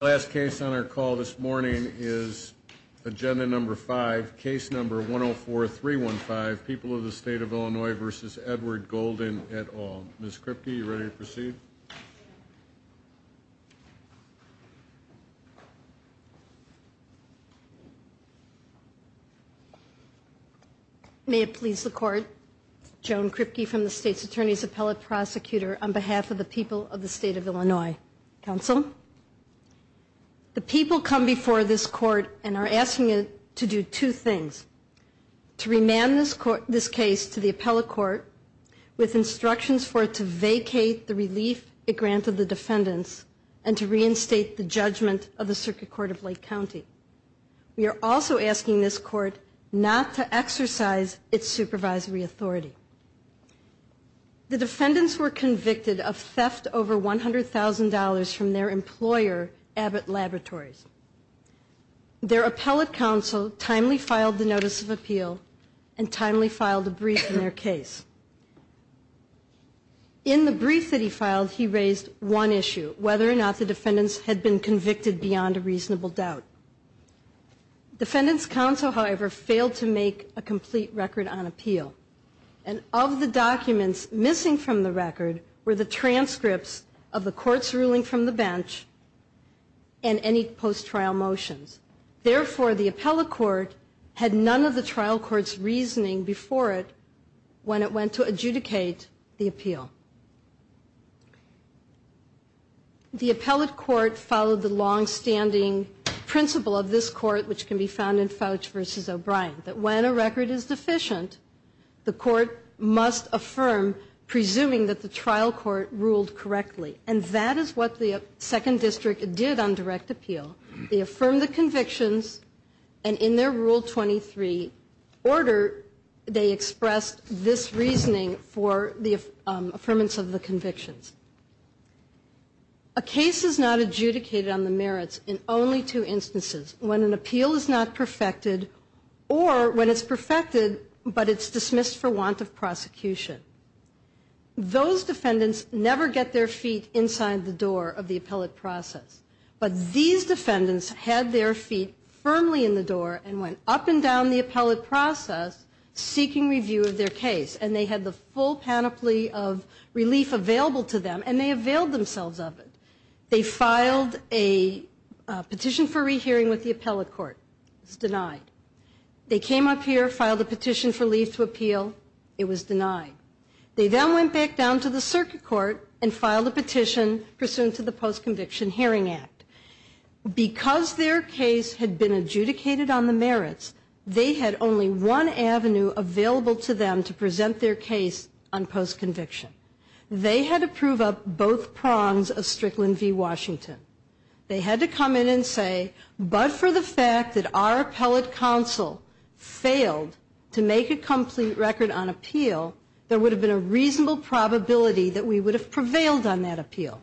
Last case on our call this morning is agenda number five, case number 104-315, People of the State of Illinois v. Edward Golden et al. Ms. Kripke, are you ready to proceed? May it please the court, Joan Kripke from the State's Attorney's Appellate Prosecutor on behalf of the People of the State of Illinois. Counsel? The people come before this court and are asking it to do two things. To remand this case to the appellate court with instructions for it to vacate the relief it granted the defendants and to reinstate the judgment of the Circuit Court of Lake County. We are also asking this court not to exercise its supervisory authority. The defendants were convicted of theft over $100,000 from their employer Abbott Laboratories. Their appellate counsel timely filed the notice of appeal and timely filed a brief in their case. In the brief that he filed he raised one issue, whether or not the defendants had been convicted beyond a reasonable doubt. Defendants counsel, however, failed to make a complete record on appeal. And of the documents missing from the record were the transcripts of the court's ruling from the bench and any post-trial motions. Therefore, the appellate court had none of the trial court's reasoning before it when it went to adjudicate the appeal. The appellate court followed the long-standing principle of this court, which can be found in Fouch v. O'Brien, that when a record is deficient, the court must affirm, presuming that the trial court ruled correctly. And that is what the Second District did on direct appeal. They affirmed the convictions and in their Rule 23 order, they expressed this reasoning for the appellate court. A case is not adjudicated on the merits in only two instances, when an appeal is not perfected or when it's perfected but it's dismissed for want of prosecution. Those defendants never get their feet inside the door of the appellate process. But these defendants had their feet firmly in the door and went up and down the appellate process seeking review of their case. And they had the full panoply of relief available to them and they availed themselves of it. They filed a petition for rehearing with the appellate court. It was denied. They came up here, filed a petition for leave to appeal. It was denied. They then went back down to the circuit court and filed a petition pursuant to the Post-Conviction Hearing Act. Because their case had been adjudicated on the merits, they had only one avenue available to them to present their case on post-conviction. They had to prove up both prongs of Strickland v. Washington. They had to come in and say, but for the fact that our appellate counsel failed to make a complete record on appeal, there would have been a reasonable probability that we would have prevailed on that appeal.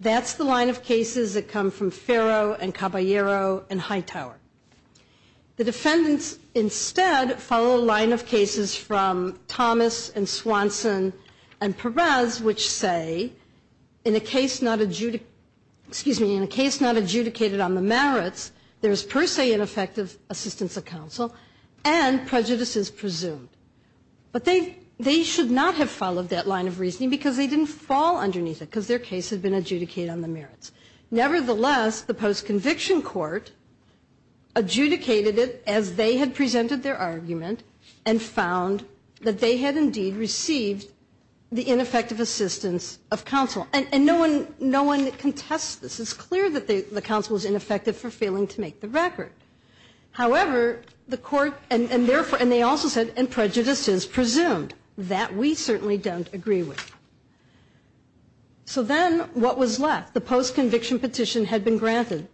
That's the line of cases that come from Ferro and Caballero and Hightower. The defendants instead follow a line of cases from Thomas and Swanson and Perez which say, in a case not adjudicated on the merits, there is per se ineffective assistance of counsel and prejudice is presumed. But they should not have followed that line of reasoning because they didn't fall underneath it because their case had been adjudicated on the merits. Nevertheless, the post-conviction court adjudicated it as they had presented their argument and found that they had indeed received the ineffective assistance of counsel. And no one contests this. It's clear that the counsel was ineffective for failing to make the record. However, the court, and they also said, and prejudice is presumed. That we certainly don't agree with. So then what was left? The post-conviction petition had been granted.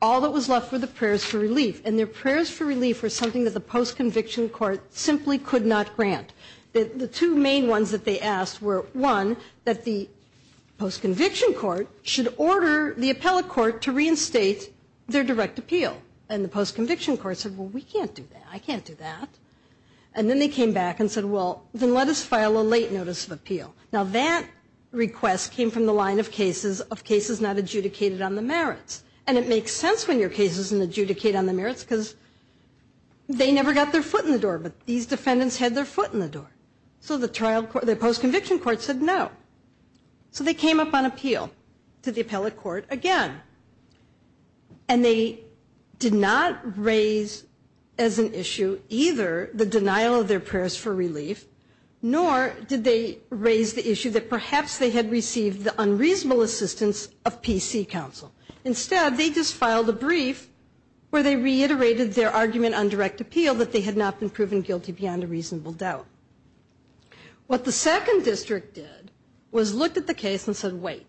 All that was left were the prayers for relief. And their prayers for relief were something that the post-conviction court simply could not grant. The two main ones that they asked were, one, that the post-conviction court should order the appellate court to reinstate their direct appeal. And the post-conviction court said, well, we can't do that. I can't do that. And then they came back and said, well, then let us file a late notice of appeal. Now that request came from the line of cases, of cases not adjudicated on the merits. And it makes sense when your case isn't adjudicated on the merits because they never got their foot in the door. But these defendants had their foot in the door. So the trial court, the post-conviction court said no. So they came up on appeal to the appellate court again. And they did not raise as an issue either the denial of their prayers for relief, nor did they raise the issue that perhaps they had received the unreasonable assistance of PC counsel. Instead, they just filed a brief where they reiterated their argument on direct appeal that they had not been proven guilty beyond a reasonable doubt. What the second district did was looked at the case and said, wait,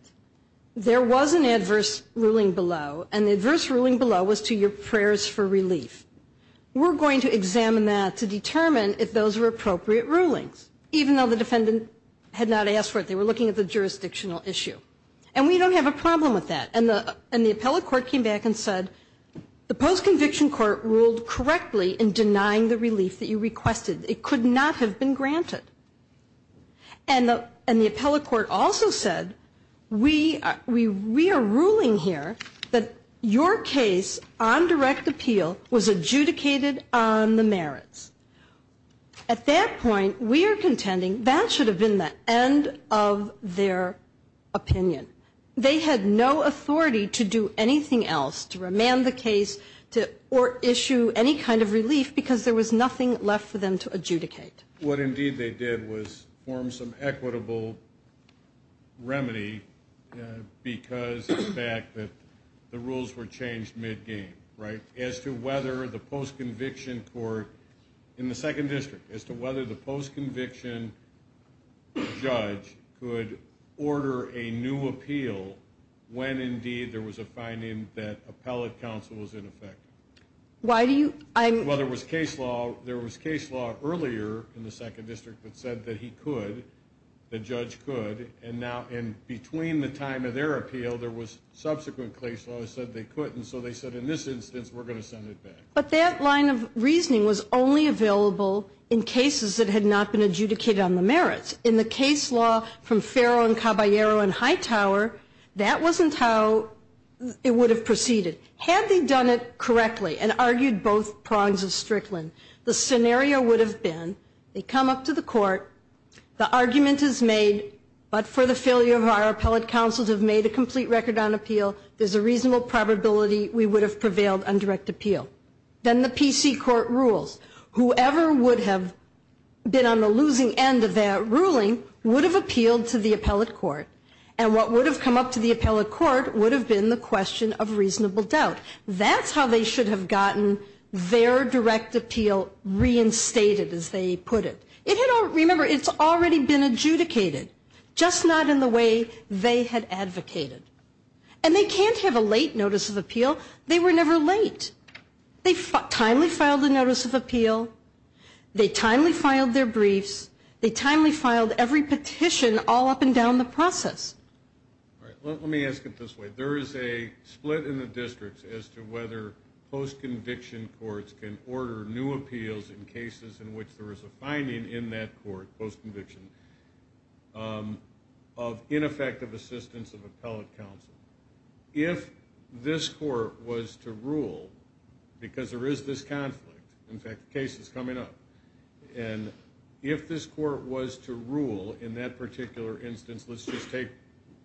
there was an adverse ruling below. And the adverse ruling below was to your prayers for relief. We're going to examine that to determine if those are appropriate rulings, even though the defendant had not asked for it. They were looking at the jurisdictional issue. And we don't have a problem with that. And the appellate court came back and said, the post-conviction court ruled correctly in denying the relief that you requested. It could not have been granted. And the appellate court also said, we are ruling here that your case on direct appeal was adjudicated on the merits. At that point, we are contending that should have been the end of their opinion. They had no authority to do anything else to remand the case or issue any kind of relief because there was nothing left for them to adjudicate. What, indeed, they did was form some equitable remedy because of the fact that the rules were changed mid-game, right? As to whether the post-conviction court in the second district, as to whether the post-conviction judge could order a new appeal when, indeed, there was a finding that appellate counsel was in effect. Well, there was case law earlier in the second district that said that he could, the judge could. And between the time of their appeal, there was subsequent case law that said they couldn't. So they said, in this instance, we're going to send it back. But that line of reasoning was only available in cases that had not been adjudicated on the merits. In the case law from Ferro and Caballero and Hightower, that wasn't how it would have proceeded. Had they done it correctly and argued both prongs of Strickland, the scenario would have been they come up to the court, the argument is made, but for the failure of our appellate counsel to have made a complete record on appeal, there's a reasonable probability we would have prevailed on direct appeal. Then the PC court rules. Whoever would have been on the losing end of that ruling would have appealed to the appellate court. And what would have come up to the appellate court would have been the question of reasonable doubt. That's how they should have gotten their direct appeal reinstated, as they put it. Remember, it's already been adjudicated, just not in the way they had advocated. And they can't have a late notice of appeal. They were never late. They timely filed a notice of appeal. They timely filed their briefs. They timely filed every petition all up and down the process. Let me ask it this way. There is a split in the districts as to whether post-conviction courts can order new appeals in cases in which there is a finding in that court, post-conviction, of ineffective assistance of appellate counsel. If this court was to rule, because there is this conflict, in fact, the case is coming up, and if this court was to rule in that particular instance, let's just take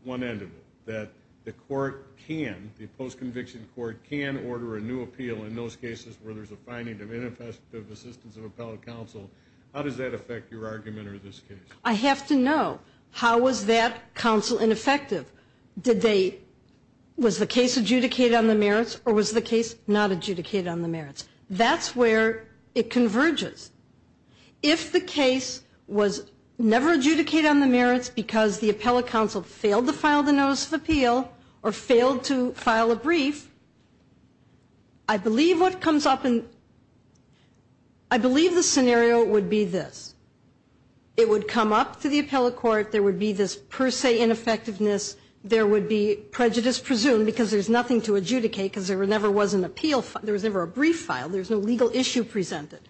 one end of it, that the court can, the post-conviction court can order a new appeal in those cases where there's a finding of ineffective assistance of appellate counsel, how does that affect your argument or this case? I have to know, how was that counsel ineffective? Did they, was the case adjudicated on the merits or was the case not adjudicated on the merits? That's where it converges. If the case was never adjudicated on the merits because the appellate counsel failed to file the notice of appeal or failed to file a brief, I believe what comes up in, I believe the scenario would be this. It would come up to the appellate court, there would be this per se ineffectiveness, there would be prejudice presumed because there's nothing to adjudicate because there never was an appeal, there was never a brief filed, there was no legal issue presented.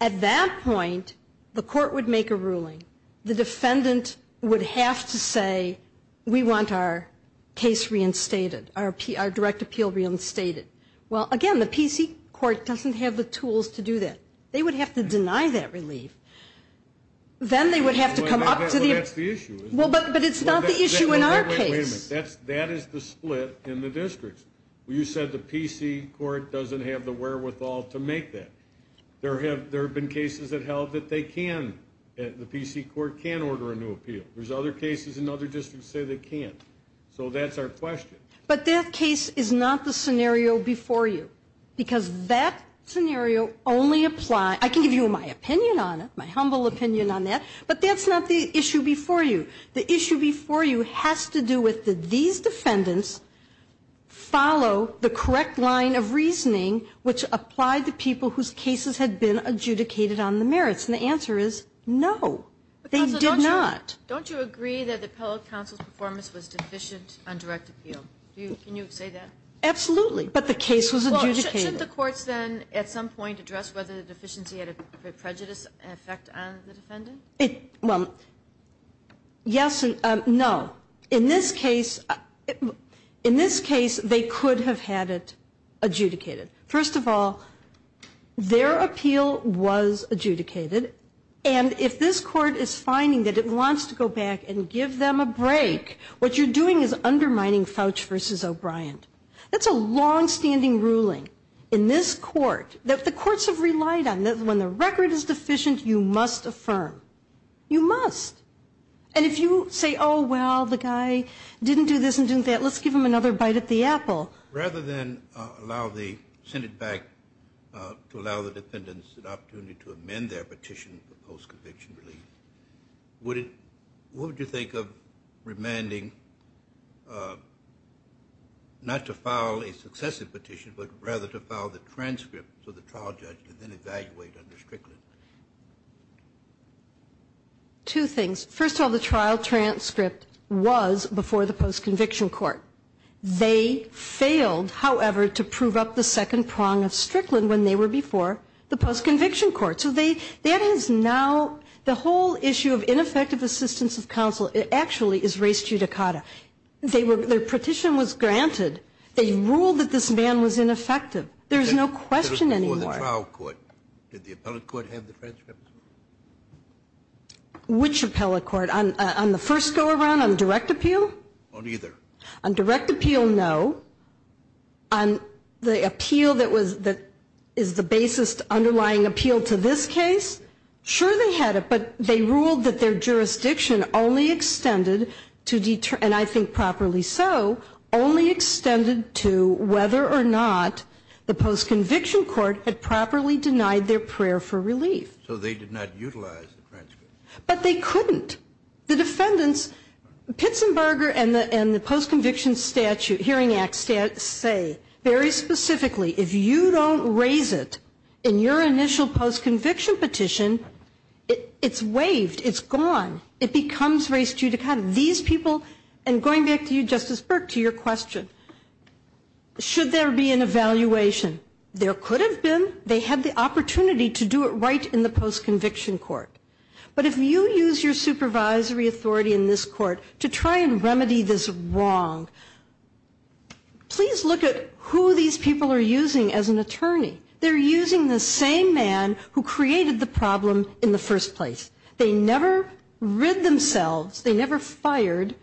At that point, the court would make a ruling, the defendant would have to say, we want our case reinstated, our direct appeal reinstated. Well, again, the PC court doesn't have the tools to do that. They would have to deny that relief. Then they would have to come up to the. But that's the issue. But it's not the issue in our case. That is the split in the districts. You said the PC court doesn't have the wherewithal to make that. There have been cases that held that they can, the PC court can order a new appeal. There's other cases in other districts that say they can't. So that's our question. But that case is not the scenario before you. Because that scenario only applies, I can give you my opinion on it, my humble opinion on that, but that's not the issue before you. The issue before you has to do with these defendants follow the correct line of reasoning which applied to people whose cases had been adjudicated on the merits. And the answer is no. They did not. Don't you agree that the appellate counsel's performance was deficient on direct appeal? Can you say that? Absolutely. But the case was adjudicated. Well, shouldn't the courts then at some point address whether the deficiency had a prejudice effect on the defendant? Well, yes and no. In this case, they could have had it adjudicated. First of all, their appeal was adjudicated. And if this court is finding that it wants to go back and give them a break, what you're doing is undermining Fouch v. O'Brien. That's a longstanding ruling in this court that the courts have relied on. When the record is deficient, you must affirm. You must. And if you say, oh, well, the guy didn't do this and didn't do that, let's give him another bite at the apple. Rather than send it back to allow the defendants an opportunity to amend their petition for post-conviction relief, what would you think of remanding not to file a successive petition, but rather to file the transcript to the trial judge and then evaluate under Strickland? Two things. First of all, the trial transcript was before the post-conviction court. They failed, however, to prove up the second prong of Strickland when they were before the post-conviction court. So that is now the whole issue of ineffective assistance of counsel actually is res judicata. Their petition was granted. They ruled that this man was ineffective. There's no question anymore. In the trial court, did the appellate court have the transcript? Which appellate court? On the first go-around, on direct appeal? On either. So they did not utilize the transcript. But they couldn't. The defendants, Pitzenberger and the post-conviction court, they could not utilize the transcript. hearing act say, very specifically, if you don't raise it in your initial post-conviction petition, it's waived. It's gone. It becomes res judicata. These people, and going back to you, Justice Burke, to your question, should there be an evaluation? There could have been. They had the opportunity to do it right in the post-conviction court. But if you use your supervisory authority in this court to try and remedy this wrong, please look at who these people are using as an attorney. They're using the same man who created the problem in the first place. They never rid themselves. They never fired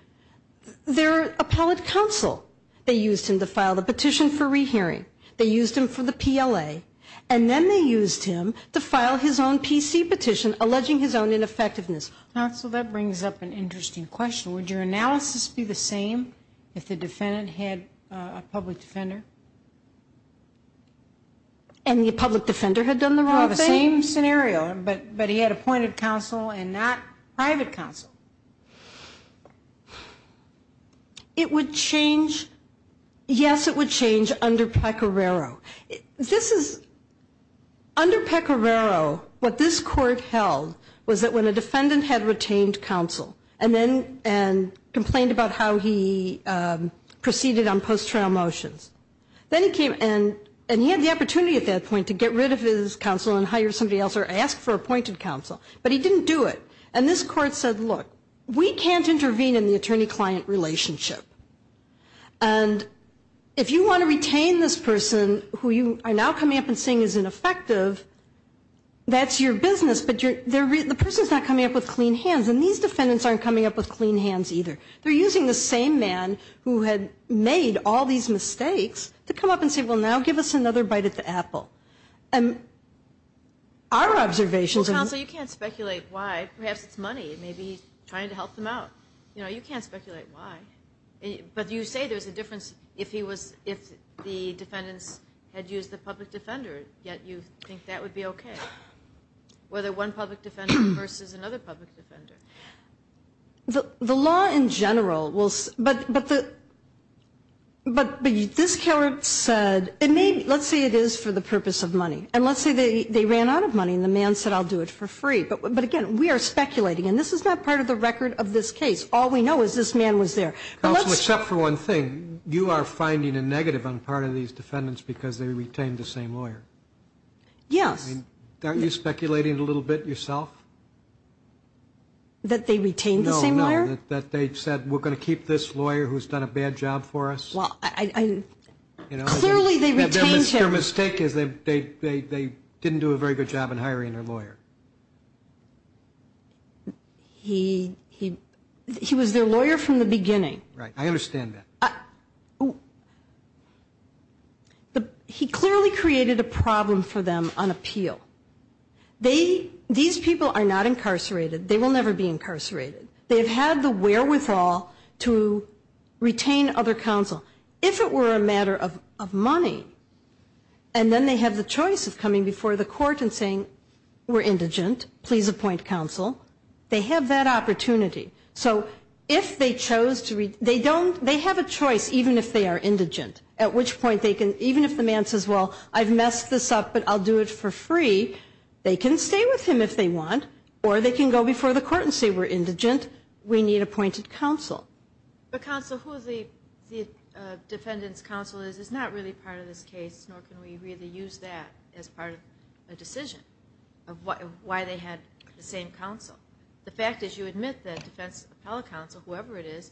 their appellate counsel. They used him to file the petition for rehearing. They used him for the PLA. And then they used him to file his own PC petition alleging his own ineffectiveness. Counsel, that brings up an interesting question. Would your analysis be the same if the defendant had a public defender? And the public defender had done the wrong thing? No, the same scenario, but he had appointed counsel and not private counsel. It would change, yes, it would change under Pecoraro. This is, under Pecoraro, what this court held was that when a defendant had retained counsel and then complained about how he proceeded on post-trial motions, then he came and he had the opportunity at that point to get rid of his counsel and hire somebody else or ask for appointed counsel, but he didn't do it. And this court said, look, we can't intervene in the attorney-client relationship. And if you want to retain this person who you are now coming up and saying is ineffective, that's your business, but the person's not coming up with clean hands, and these defendants aren't coming up with clean hands either. They're using the same man who had made all these mistakes to come up and say, well, now give us another bite at the apple. Well, counsel, you can't speculate why. Perhaps it's money. Maybe he's trying to help them out. You know, you can't speculate why. But you say there's a difference if the defendants had used the public defender, yet you think that would be okay, whether one public defender versus another public defender. The law in general will say, but the, but this court said, and maybe, let's say it is for the purpose of money, and let's say they ran out of money and the man said I'll do it for free. But again, we are speculating, and this is not part of the record of this case. All we know is this man was there. Counsel, except for one thing, you are finding a negative on part of these defendants because they retained the same lawyer. Yes. Are you speculating a little bit yourself? That they retained the same lawyer? No, no, that they said we're going to keep this lawyer who's done a bad job for us? Well, clearly they retained him. Their mistake is they didn't do a very good job in hiring their lawyer. He was their lawyer from the beginning. Right. I understand that. He clearly created a problem for them on appeal. They, these people are not incarcerated. They will never be incarcerated. They have had the wherewithal to retain other counsel. If it were a matter of money and then they have the choice of coming before the court and saying we're indigent, please appoint counsel, they have that opportunity. So if they chose to, they don't, they have a choice even if they are indigent, at which point they can, even if the man says, well, I've messed this up, but I'll do it for free, they can stay with him if they want or they can go before the court and say we're indigent, we need appointed counsel. But counsel, who the defendant's counsel is, is not really part of this case, nor can we really use that as part of a decision of why they had the same counsel. The fact is you admit that defense appellate counsel, whoever it is,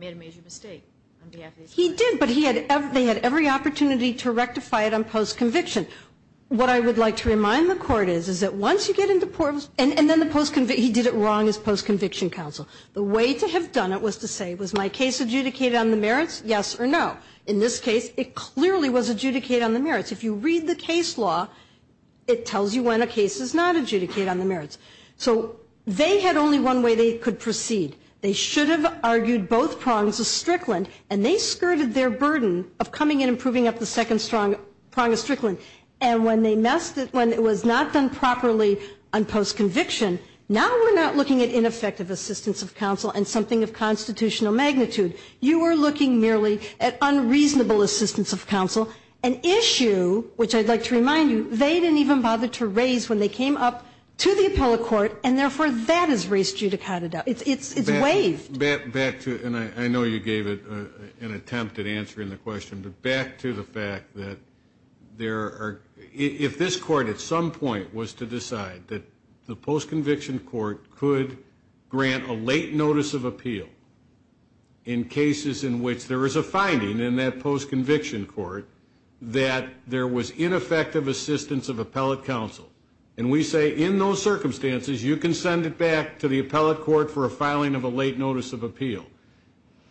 made a major mistake on behalf of these people. He did, but they had every opportunity to rectify it on post-conviction. What I would like to remind the court is that once you get into post-conviction, he did it wrong as post-conviction counsel. The way to have done it was to say was my case adjudicated on the merits, yes or no. In this case, it clearly was adjudicated on the merits. If you read the case law, it tells you when a case is not adjudicated on the merits. So they had only one way they could proceed. They should have argued both prongs of Strickland, and they skirted their burden of coming in and proving up the second strong prong of Strickland. And when they messed it, when it was not done properly on post-conviction, now we're not looking at ineffective assistance of counsel and something of constitutional magnitude. You are looking merely at unreasonable assistance of counsel, an issue which I'd like to remind you they didn't even bother to raise when they came up to the appellate court, and therefore that is raised judicata doubt. It's waived. Back to, and I know you gave it an attempted answer in the question, but back to the fact that there are, if this court at some point was to decide that the post-conviction court could grant a late notice of appeal in cases in which there is a finding in that post-conviction court that there was ineffective assistance of appellate counsel, and we say in those circumstances you can send it back to the appellate court for a filing of a late notice of appeal.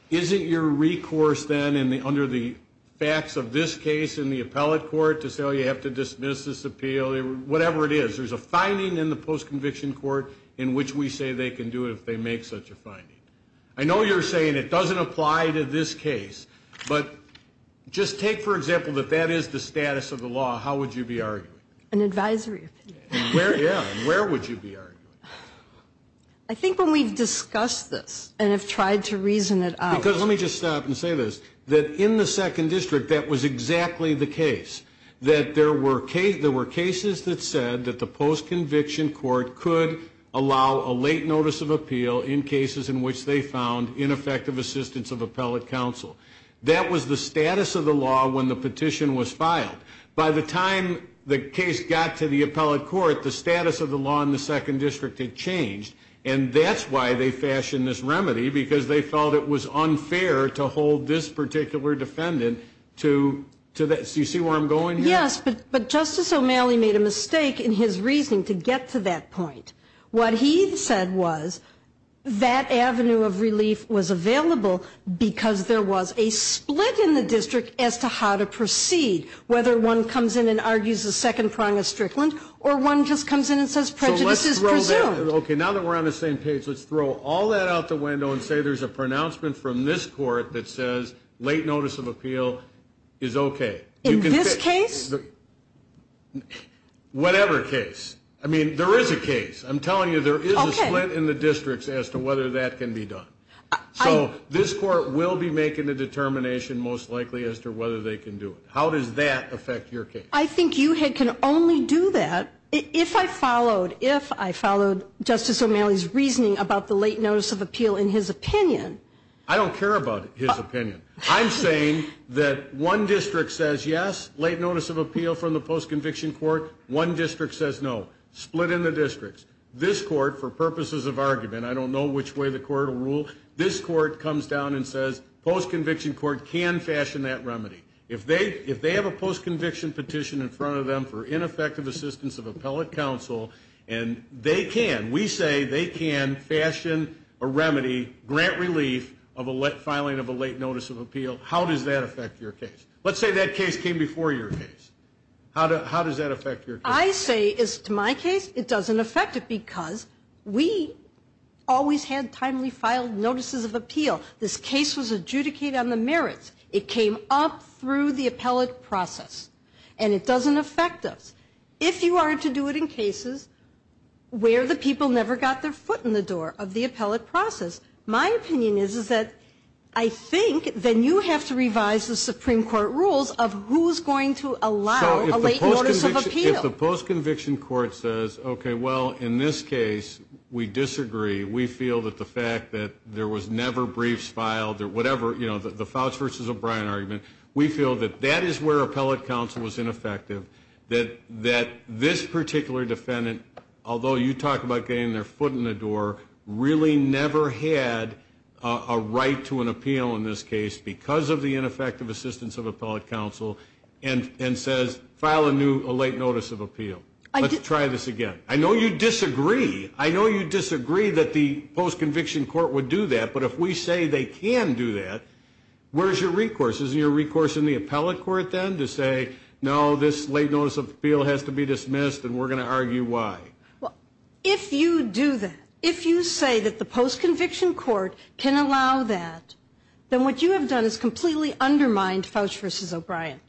Isn't your recourse then under the facts of this case in the appellate court to say, oh, you have to dismiss this appeal, whatever it is. There's a finding in the post-conviction court in which we say they can do it if they make such a finding. I know you're saying it doesn't apply to this case, but just take, for example, that that is the status of the law, how would you be arguing it? An advisory opinion. Yeah. Where would you be arguing it? I think when we've discussed this and have tried to reason it out. Because let me just stop and say this, that in the Second District that was exactly the case, that there were cases that said that the post-conviction court could allow a late notice of appeal in cases in which they found ineffective assistance of appellate counsel. That was the status of the law when the petition was filed. By the time the case got to the appellate court, the status of the law in the Second District had changed, and that's why they fashioned this remedy, because they felt it was unfair to hold this particular defendant to that. Do you see where I'm going here? Yes, but Justice O'Malley made a mistake in his reasoning to get to that point. What he said was that avenue of relief was available because there was a split in the district as to how to proceed, whether one comes in and argues the second prong of Strickland or one just comes in and says prejudice is presumed. Okay, now that we're on the same page, let's throw all that out the window and say there's a pronouncement from this court that says late notice of appeal is okay. In this case? Whatever case. I mean, there is a case. I'm telling you there is a split in the districts as to whether that can be done. So this court will be making a determination most likely as to whether they can do it. How does that affect your case? I think you can only do that if I followed Justice O'Malley's reasoning about the late notice of appeal in his opinion. I don't care about his opinion. I'm saying that one district says yes, late notice of appeal from the postconviction court, one district says no, split in the districts. This court, for purposes of argument, I don't know which way the court will rule, this court comes down and says postconviction court can fashion that remedy. If they have a postconviction petition in front of them for ineffective assistance of appellate counsel and they can, we say they can fashion a remedy, grant relief of a filing of a late notice of appeal, how does that affect your case? Let's say that case came before your case. How does that affect your case? What I say is to my case it doesn't affect it because we always had timely filed notices of appeal. This case was adjudicated on the merits. It came up through the appellate process. And it doesn't affect us. If you are to do it in cases where the people never got their foot in the door of the appellate process, my opinion is that I think then you have to revise the Supreme Court rules of who is going to allow a late notice of appeal. If the postconviction court says, okay, well, in this case we disagree. We feel that the fact that there was never briefs filed or whatever, you know, the Fouts versus O'Brien argument, we feel that that is where appellate counsel was ineffective, that this particular defendant, although you talk about getting their foot in the door, really never had a right to an appeal in this case because of the late notice of appeal. Let's try this again. I know you disagree. I know you disagree that the postconviction court would do that. But if we say they can do that, where is your recourse? Is it your recourse in the appellate court then to say, no, this late notice of appeal has to be dismissed and we're going to argue why? If you do that, if you say that the postconviction court can allow that, then what you have done is completely undermined Fouts versus O'Brien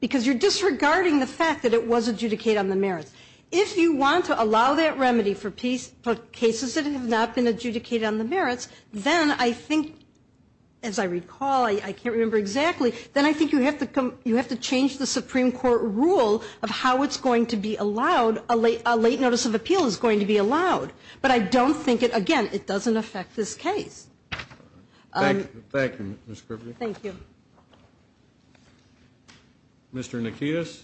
because you're disregarding the fact that it was adjudicated on the merits. If you want to allow that remedy for cases that have not been adjudicated on the merits, then I think, as I recall, I can't remember exactly, then I think you have to change the Supreme Court rule of how it's going to be allowed, a late notice of appeal is going to be allowed. But I don't think it, again, it doesn't affect this case. Thank you, Ms. Kruby. Thank you. Mr. Nikitas,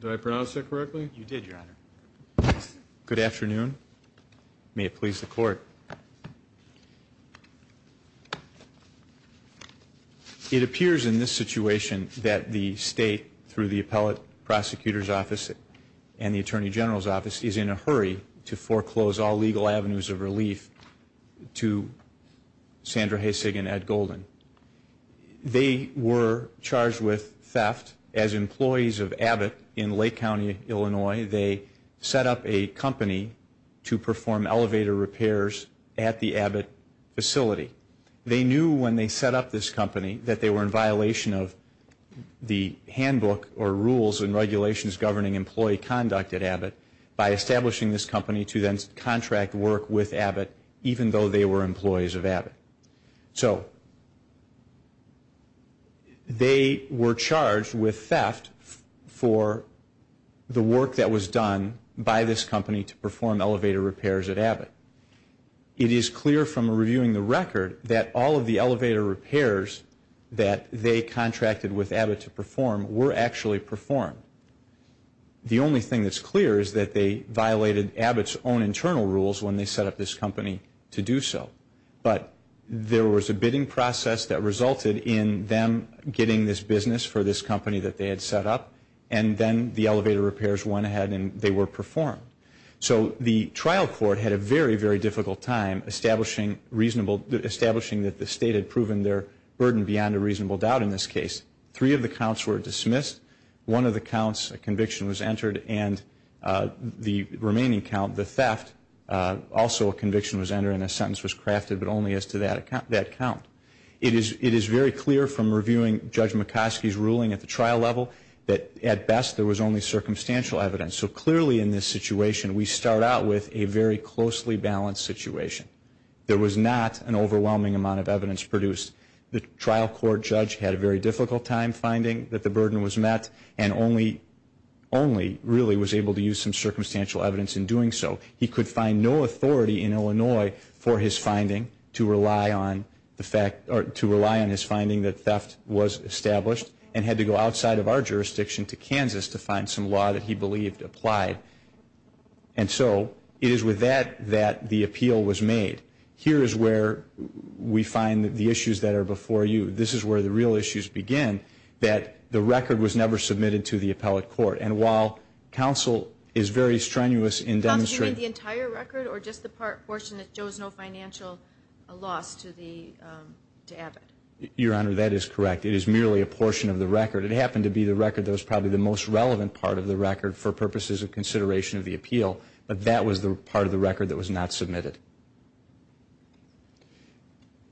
did I pronounce that correctly? You did, Your Honor. Good afternoon. May it please the Court. It appears in this situation that the State, through the Appellate Prosecutor's Office and the Attorney General's Office, is in a hurry to foreclose all legal avenues of relief to Sandra Haysig and Ed Golden. They were charged with theft. As employees of Abbott in Lake County, Illinois, they set up a company to perform elevator repairs at the Abbott facility. They knew when they set up this company that they were in violation of the handbook or rules and regulations governing employee conduct at Abbott by establishing this company to then contract work with Abbott, even though they were employees of Abbott. So they were charged with theft for the work that was done by this company to perform elevator repairs at Abbott. It is clear from reviewing the record that all of the elevator repairs that they contracted with Abbott to perform were actually performed. The only thing that's clear is that they violated Abbott's own internal rules when they set up this company to do so. But there was a bidding process that resulted in them getting this business for this company that they had set up, and then the elevator repairs went ahead and they were performed. So the trial court had a very, very difficult time establishing that the state had proven their burden beyond a reasonable doubt in this case. Three of the counts were dismissed. One of the counts, a conviction was entered, and the remaining count, the theft, also a conviction was entered and a sentence was crafted, but only as to that count. It is very clear from reviewing Judge McCoskey's ruling at the trial level that at best there was only circumstantial evidence. So clearly in this situation we start out with a very closely balanced situation. There was not an overwhelming amount of evidence produced. The trial court judge had a very difficult time finding that the burden was met and only really was able to use some circumstantial evidence in doing so. He could find no authority in Illinois for his finding to rely on the fact or to rely on his finding that theft was established and had to go outside of our jurisdiction to Kansas to find some law that he believed applied. And so it is with that that the appeal was made. Here is where we find the issues that are before you. This is where the real issues begin, that the record was never submitted to the appellate court. And while counsel is very strenuous in demonstrating... Do you mean the entire record or just the portion that shows no financial loss to Abbott? Your Honor, that is correct. It is merely a portion of the record. It happened to be the record that was probably the most relevant part of the record for purposes of consideration of the appeal, but that was the part of the record that was not submitted.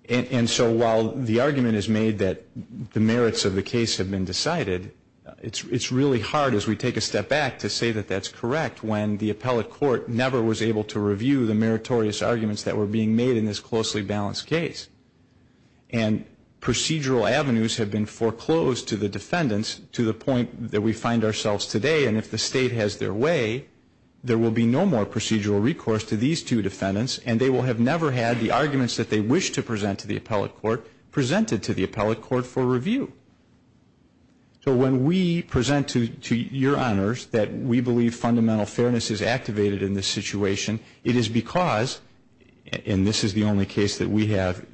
And so while the argument is made that the merits of the case have been decided, it is really hard as we take a step back to say that that is correct when the appellate court never was able to review the meritorious arguments that were being made in this closely balanced case. And procedural avenues have been foreclosed to the defendants to the point that we find ourselves today. And if the State has their way, there will be no more procedural recourse to these two defendants, and they will have never had the arguments that they wish to present to the appellate court presented to the appellate court for review. So when we present to your Honors that we believe fundamental fairness is activated in this situation, it is because, and this is the only case that we have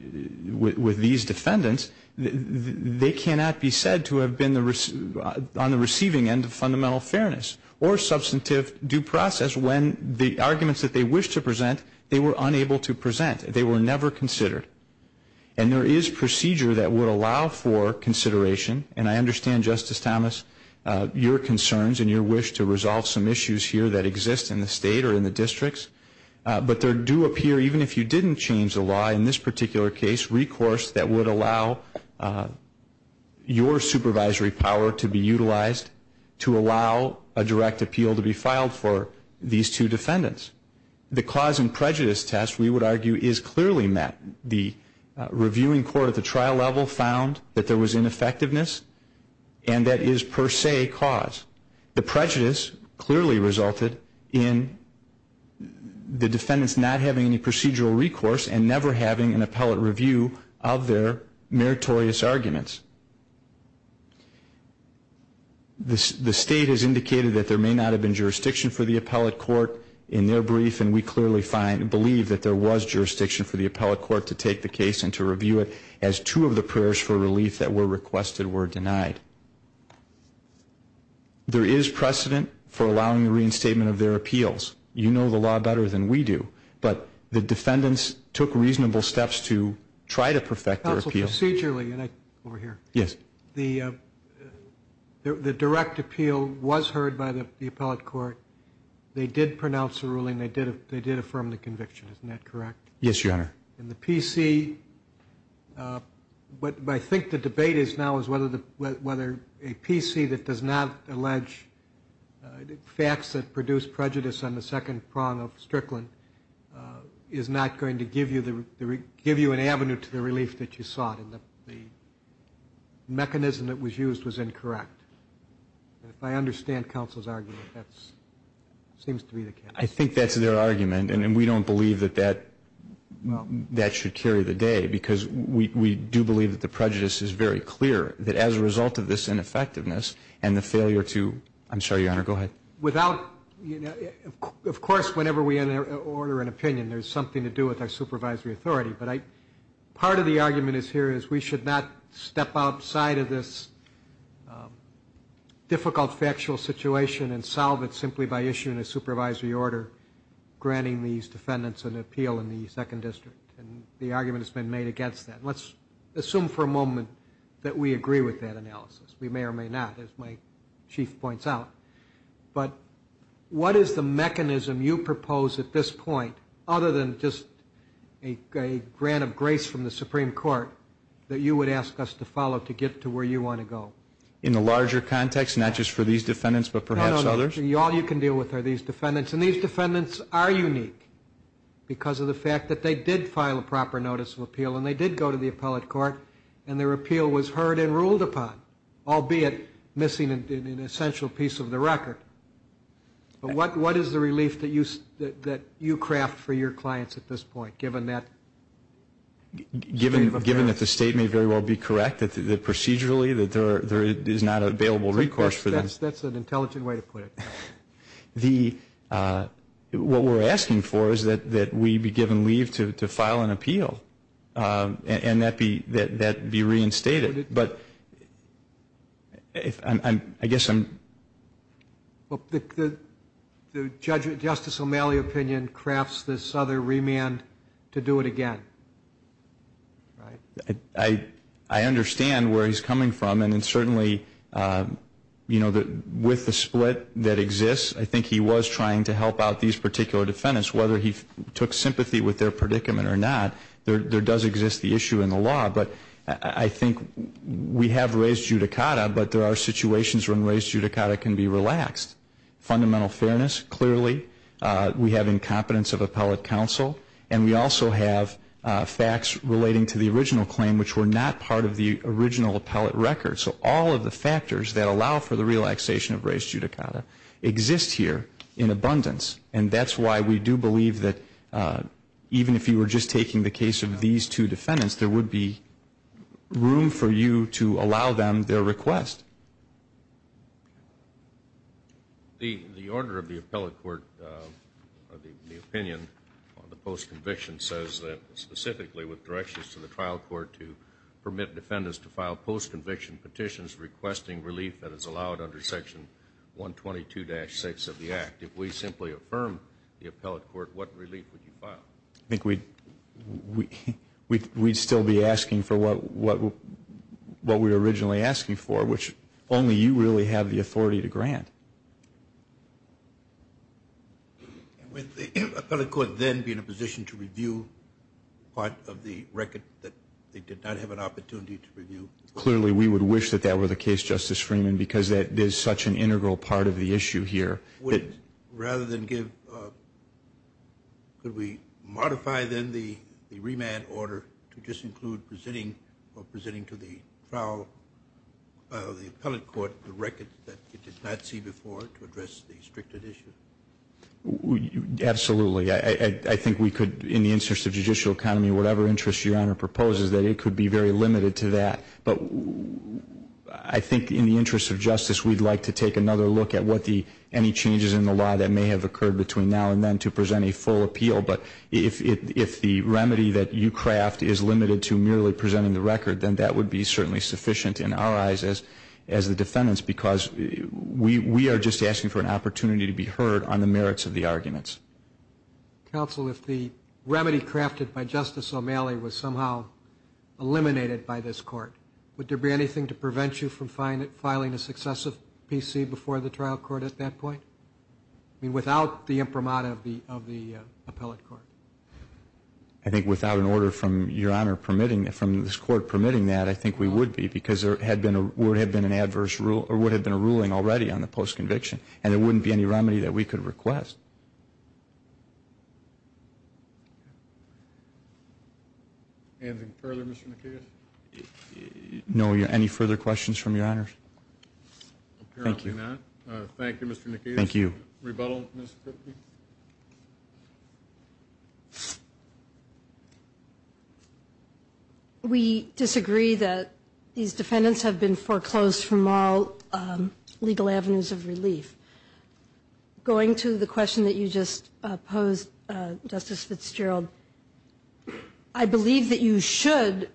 with these defendants, they cannot be said to have been on the receiving end of fundamental fairness or substantive due process when the arguments that they wish to present, they were unable to present. They were never considered. And there is procedure that would allow for consideration, and I understand, Justice Thomas, your concerns and your wish to resolve some issues here that exist in the State or in the districts. But there do appear, even if you didn't change the law in this particular case, recourse that would allow your supervisory power to be utilized to allow a direct appeal to be filed for these two defendants. The cause and prejudice test, we would argue, is clearly met. The reviewing court at the trial level found that there was ineffectiveness, and that is per se cause. The prejudice clearly resulted in the defendants not having any procedural recourse and never having an appellate review of their meritorious arguments. The State has indicated that there may not have been jurisdiction for the appellate court in their brief, and we clearly find and believe that there was jurisdiction for the appellate court to take the case and to review it as two of the prayers for relief that were requested were denied. There is precedent for allowing the reinstatement of their appeals. You know the law better than we do, but the defendants took reasonable steps to try to perfect their appeals. Counsel, procedurally, and I, over here. Yes. The direct appeal was heard by the appellate court. They did pronounce a ruling. They did affirm the conviction. Isn't that correct? Yes, Your Honor. And the PC, but I think the debate now is whether a PC that does not allege facts that produce prejudice on the second prong of Strickland is not going to give you an avenue to the relief that you sought, and the mechanism that was used was incorrect. If I understand counsel's argument, that seems to be the case. I think that's their argument, and we don't believe that that should carry the day because we do believe that the prejudice is very clear, that as a result of this ineffectiveness and the failure to, I'm sorry, Your Honor, go ahead. Without, of course, whenever we order an opinion, there's something to do with our supervisory authority, but part of the argument here is we should not step outside of this difficult factual situation and solve it simply by issuing a supervisory order granting these defendants an appeal in the second district, and the argument has been made against that. Let's assume for a moment that we agree with that analysis. We may or may not, as my chief points out, but what is the mechanism you propose at this point, other than just a grant of grace from the Supreme Court, that you would ask us to follow to get to where you want to go? In the larger context, not just for these defendants, but perhaps others? All you can deal with are these defendants, and these defendants are unique because of the fact that they did file a proper notice of appeal, and they did go to the appellate court, and their appeal was heard and ruled upon, albeit missing an essential piece of the record. But what is the relief that you craft for your clients at this point, given that state of affairs? Given that the state may very well be correct, that procedurally there is not available recourse for them. That's an intelligent way to put it. What we're asking for is that we be given leave to file an appeal, and that be reinstated. But I guess I'm... The Justice O'Malley opinion crafts this other remand to do it again, right? I understand where he's coming from, and certainly, you know, with the split that exists, I think he was trying to help out these particular defendants. Whether he took sympathy with their predicament or not, there does exist the issue in the law. But I think we have raised judicata, but there are situations when raised judicata can be relaxed. Fundamental fairness, clearly. We have incompetence of appellate counsel, and we also have facts relating to the original claim, which were not part of the original appellate record. So all of the factors that allow for the relaxation of raised judicata exist here in abundance. And that's why we do believe that even if you were just taking the case of these two defendants, there would be room for you to allow them their request. The order of the appellate court, the opinion on the post-conviction says that specifically with directions to the trial court to permit defendants to file post-conviction petitions requesting relief that is allowed under Section 122-6 of the Act, if we simply affirm the appellate court, what relief would you file? I think we'd still be asking for what we were originally asking for, which only you really have the authority to grant. Would the appellate court then be in a position to review part of the record that they did not have an opportunity to review? Clearly, we would wish that that were the case, Justice Freeman, because there's such an integral part of the issue here. Could we modify then the remand order to just include presenting to the trial of the appellate court the record that it did not see before to address the restricted issue? Absolutely. I think we could, in the interest of judicial economy, whatever interest Your Honor proposes, that it could be very limited to that. But I think in the interest of justice, we'd like to take another look at any changes in the law that may have occurred between now and then to present a full appeal. But if the remedy that you craft is limited to merely presenting the record, then that would be certainly sufficient in our eyes as the defendants, because we are just asking for an opportunity to be heard on the merits of the arguments. Counsel, if the remedy crafted by Justice O'Malley was somehow eliminated by this trial court at that point, without the imprimatur of the appellate court? I think without an order from Your Honor permitting that, from this court permitting that, I think we would be, because there would have been a ruling already on the post-conviction, and there wouldn't be any remedy that we could request. Anything further, Mr. McKeon? No. Any further questions from Your Honor? Thank you. Thank you, Mr. McKeon. Rebuttal, Ms. Kripke? We disagree that these defendants have been foreclosed from all legal avenues of relief. Going to the question that you just posed, Justice Fitzgerald, I believe that you should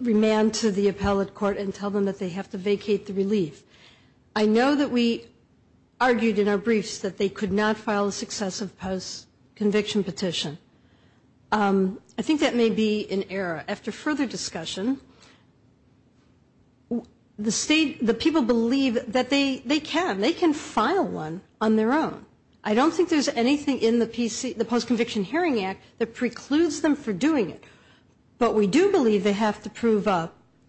remand to the appellate court and tell them that they have to vacate the relief. I know that we argued in our briefs that they could not file a successive post-conviction petition. I think that may be an error. After further discussion, the people believe that they can. They can file one on their own. I don't think there's anything in the Post-Conviction Hearing Act that precludes them from doing it. But we do believe they have to prove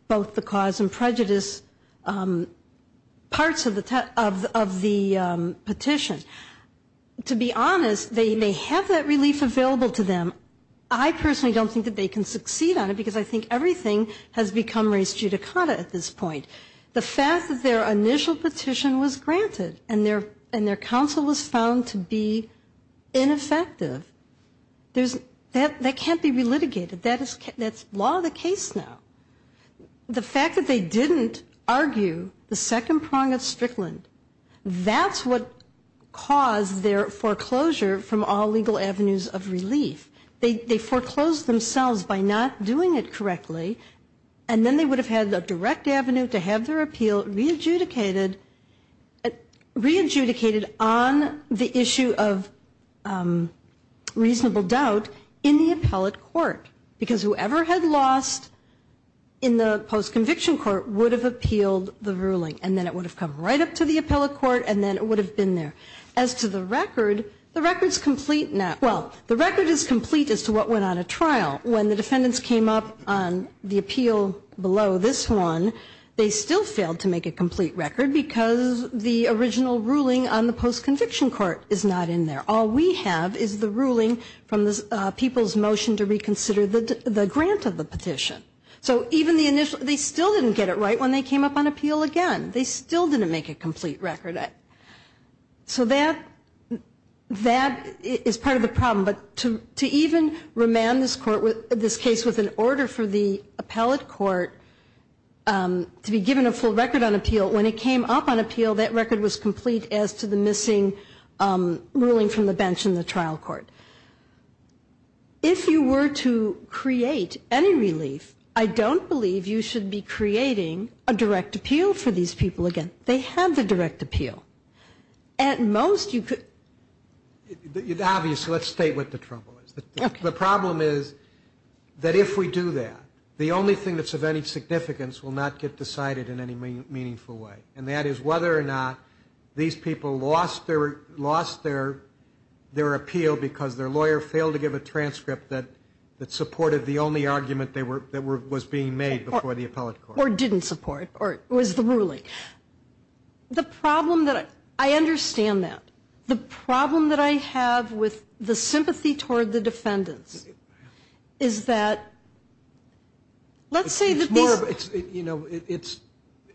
both the cause and prejudice parts of the petition. To be honest, they may have that relief available to them. I personally don't think that they can succeed on it, because I think everything has become res judicata at this point. The fact that their initial petition was granted and their counsel was found to be ineffective, that can't be relitigated. That's law of the case now. The fact that they didn't argue the second prong of Strickland, that's what caused their foreclosure from all legal avenues of relief. They foreclosed themselves by not doing it correctly, and then they would have had a direct avenue to have their appeal re-adjudicated on the issue of reasonable doubt in the appellate court, because whoever had lost in the post-conviction court would have appealed the ruling, and then it would have come right up to the appellate court, and then it would have been there. As to the record, the record is complete now. Well, the record is complete as to what went on at trial. When the defendants came up on the appeal below this one, they still failed to make a complete record because the original ruling on the post-conviction court is not in there. All we have is the ruling from the people's motion to reconsider the grant of the petition. So even the initial, they still didn't get it right when they came up on appeal again. They still didn't make a complete record. So that is part of the problem. But to even remand this case with an order for the appellate court to be given a full record on appeal, when it came up on appeal, that record was complete as to the missing ruling from the bench in the trial court. If you were to create any relief, I don't believe you should be creating a direct appeal for these people again. They have the direct appeal. Obviously, let's state what the trouble is. The problem is that if we do that, the only thing that's of any significance will not get decided in any meaningful way, and that is whether or not these people lost their appeal because their lawyer failed to give a transcript that supported the only argument that was being made before the appellate court. Or didn't support, or was the ruling. The problem that, I understand that. The problem that I have with the sympathy toward the defendants is that, let's say that these.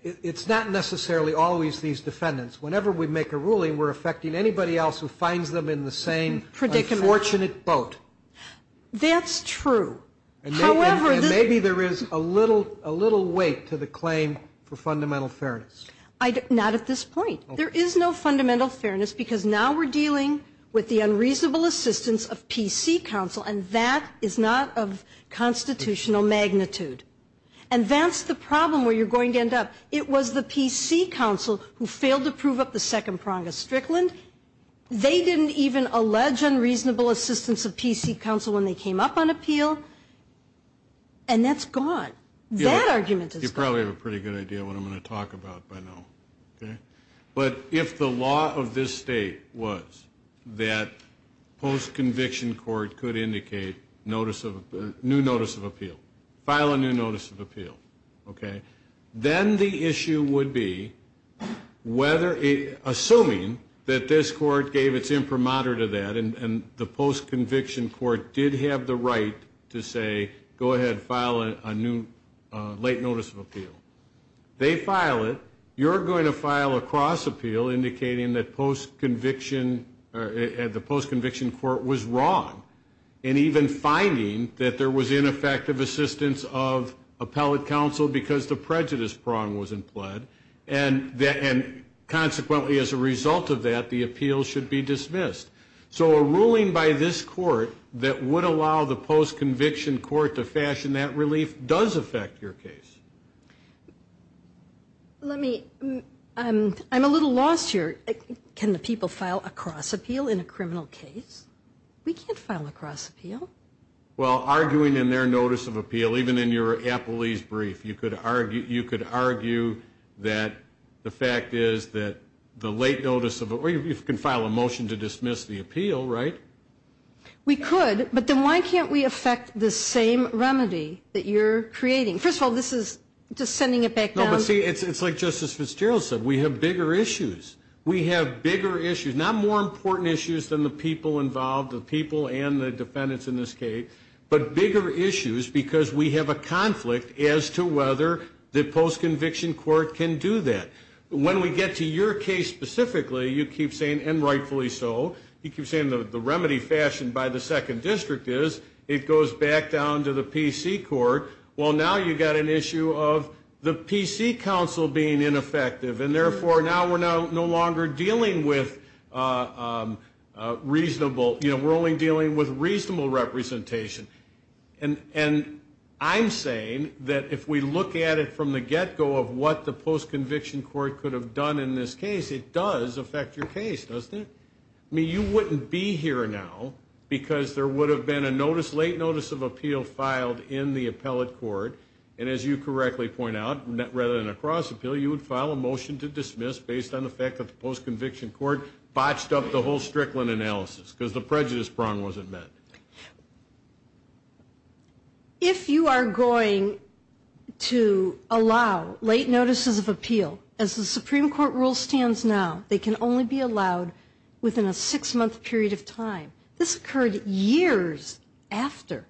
It's not necessarily always these defendants. Whenever we make a ruling, we're affecting anybody else who finds them in the same unfortunate boat. That's true. And maybe there is a little weight to the claim for fundamental fairness. Not at this point. There is no fundamental fairness because now we're dealing with the unreasonable assistance of PC counsel, and that is not of constitutional magnitude. And that's the problem where you're going to end up. It was the PC counsel who failed to prove up the second prong of Strickland. They didn't even allege unreasonable assistance of PC counsel when they came up on appeal. And that's gone. That argument is gone. You probably have a pretty good idea of what I'm going to talk about by now. But if the law of this state was that post-conviction court could indicate notice of, new notice of appeal. File a new notice of appeal. Then the issue would be, assuming that this court gave its imprimatur to that and the post-conviction court did have the right to say, go ahead, file a new late notice of appeal. They file it. You're going to file a cross appeal indicating that the post-conviction court was wrong. And even finding that there was ineffective assistance of appellate counsel because the prejudice prong was in plaid. And consequently, as a result of that, the appeal should be dismissed. So a ruling by this court that would allow the post-conviction court to fashion that relief does affect your case. I'm a little lost here. Can the people file a cross appeal in a criminal case? We can't file a cross appeal. Well, arguing in their notice of appeal, even in your appellee's brief, you could argue that the fact is that the late notice of, or you can file a motion to dismiss the appeal, right? We could, but then why can't we affect the same remedy that you're creating? First of all, this is just sending it back down. No, but see, it's like Justice Fitzgerald said. We have bigger issues. We have bigger issues. Not more important issues than the people involved, the people and the defendants in this case, but bigger issues because we have a conflict as to whether the post-conviction court can do that. When we get to your case specifically, you keep saying, and rightfully so, you keep saying the remedy fashioned by the second district is it goes back down to the PC court. Well, now you've got an issue of the PC counsel being ineffective, and therefore now we're no longer dealing with reasonable, you know, we're only dealing with reasonable representation. And I'm saying that if we look at it from the get-go of what the post-conviction court could have done in this case, it does affect your case, doesn't it? I mean, you wouldn't be here now because there would have been a notice, late notice of appeal filed in the appellate court, and as you correctly point out, rather than a cross appeal, you would file a motion to dismiss based on the fact that the post-conviction court botched up the whole Strickland analysis because the prejudice prong wasn't met. If you are going to allow late notices of appeal, as the Supreme Court rule stands now, they can only be allowed within a six-month period of time. This occurred years after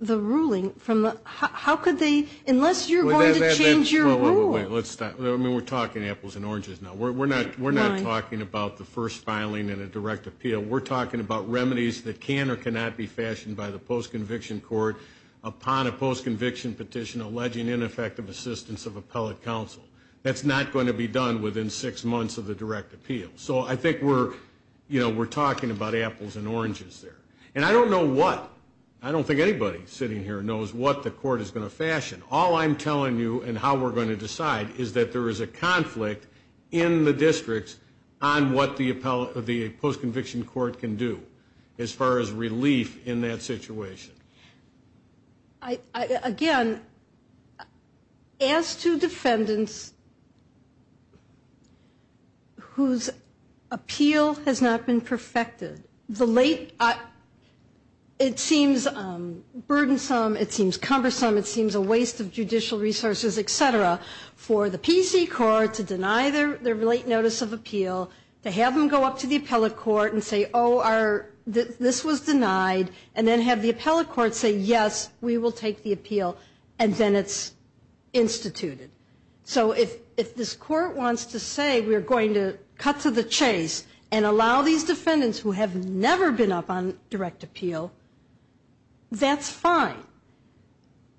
the ruling from the, how could they, unless you're going to change your rule. Wait, let's stop. I mean, we're talking apples and oranges now. We're not talking about the first filing in a direct appeal. We're talking about remedies that can or cannot be fashioned by the post-conviction court upon a post-conviction petition alleging ineffective assistance of appellate counsel. That's not going to be done within six months of the direct appeal. So I think we're, you know, we're talking about apples and oranges there. And I don't know what, I don't think anybody sitting here knows what the court is going to fashion. All I'm telling you and how we're going to decide is that there is a conflict in the districts on what the post-conviction court can do as far as relief in that situation. Again, as to defendants whose appeal has not been perfected, the late, it seems burdensome, it seems cumbersome, it seems a waste of judicial resources, et cetera, for the PC court to deny their late notice of appeal, to have them go up to the appellate court and say, oh, this was denied, and then have the appellate court say, yes, we will take the appeal, and then it's instituted. So if this court wants to say we're going to cut to the chase and allow these defendants who have never been up on direct appeal, that's fine.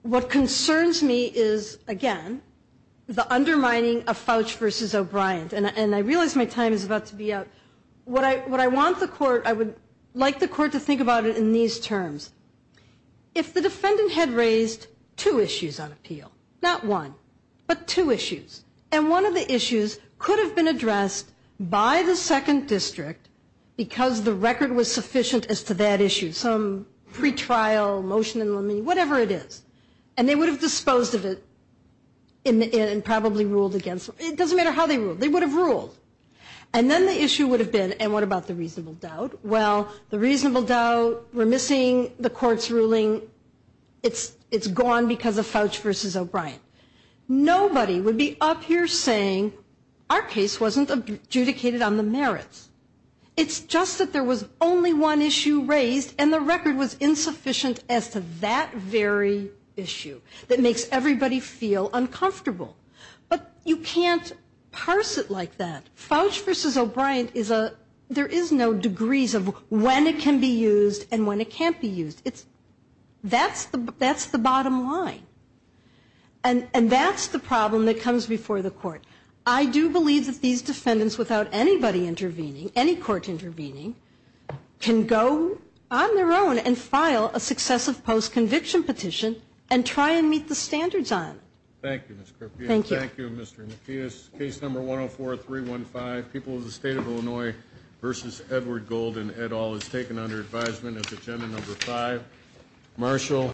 What concerns me is, again, the undermining of Fouch v. O'Brien. And I realize my time is about to be up. What I want the court, I would like the court to think about it in these terms. If the defendant had raised two issues on appeal, not one, but two issues, and one of the issues could have been addressed by the second district because the record was sufficient as to that issue, some pretrial motion, whatever it is, and they would have disposed of it and probably ruled against it. It doesn't matter how they ruled. They would have ruled. And then the issue would have been, and what about the reasonable doubt? Well, the reasonable doubt, we're missing the court's ruling, it's gone because of Fouch v. O'Brien. Nobody would be up here saying our case wasn't adjudicated on the merits. It's just that there was only one issue raised, and the record was insufficient as to that very issue that makes everybody feel uncomfortable. But you can't parse it like that. Fouch v. O'Brien, there is no degrees of when it can be used and when it can't be used. That's the bottom line. And that's the problem that comes before the court. I do believe that these defendants, without anybody intervening, any court intervening, can go on their own and file a successive post-conviction petition and try and meet the standards on it. Thank you, Ms. Karpia. Thank you. Thank you, Mr. Mathias. Case No. 104-315, People of the State of Illinois v. Edward Golden, et al., is taken under advisement as Agenda No. 5.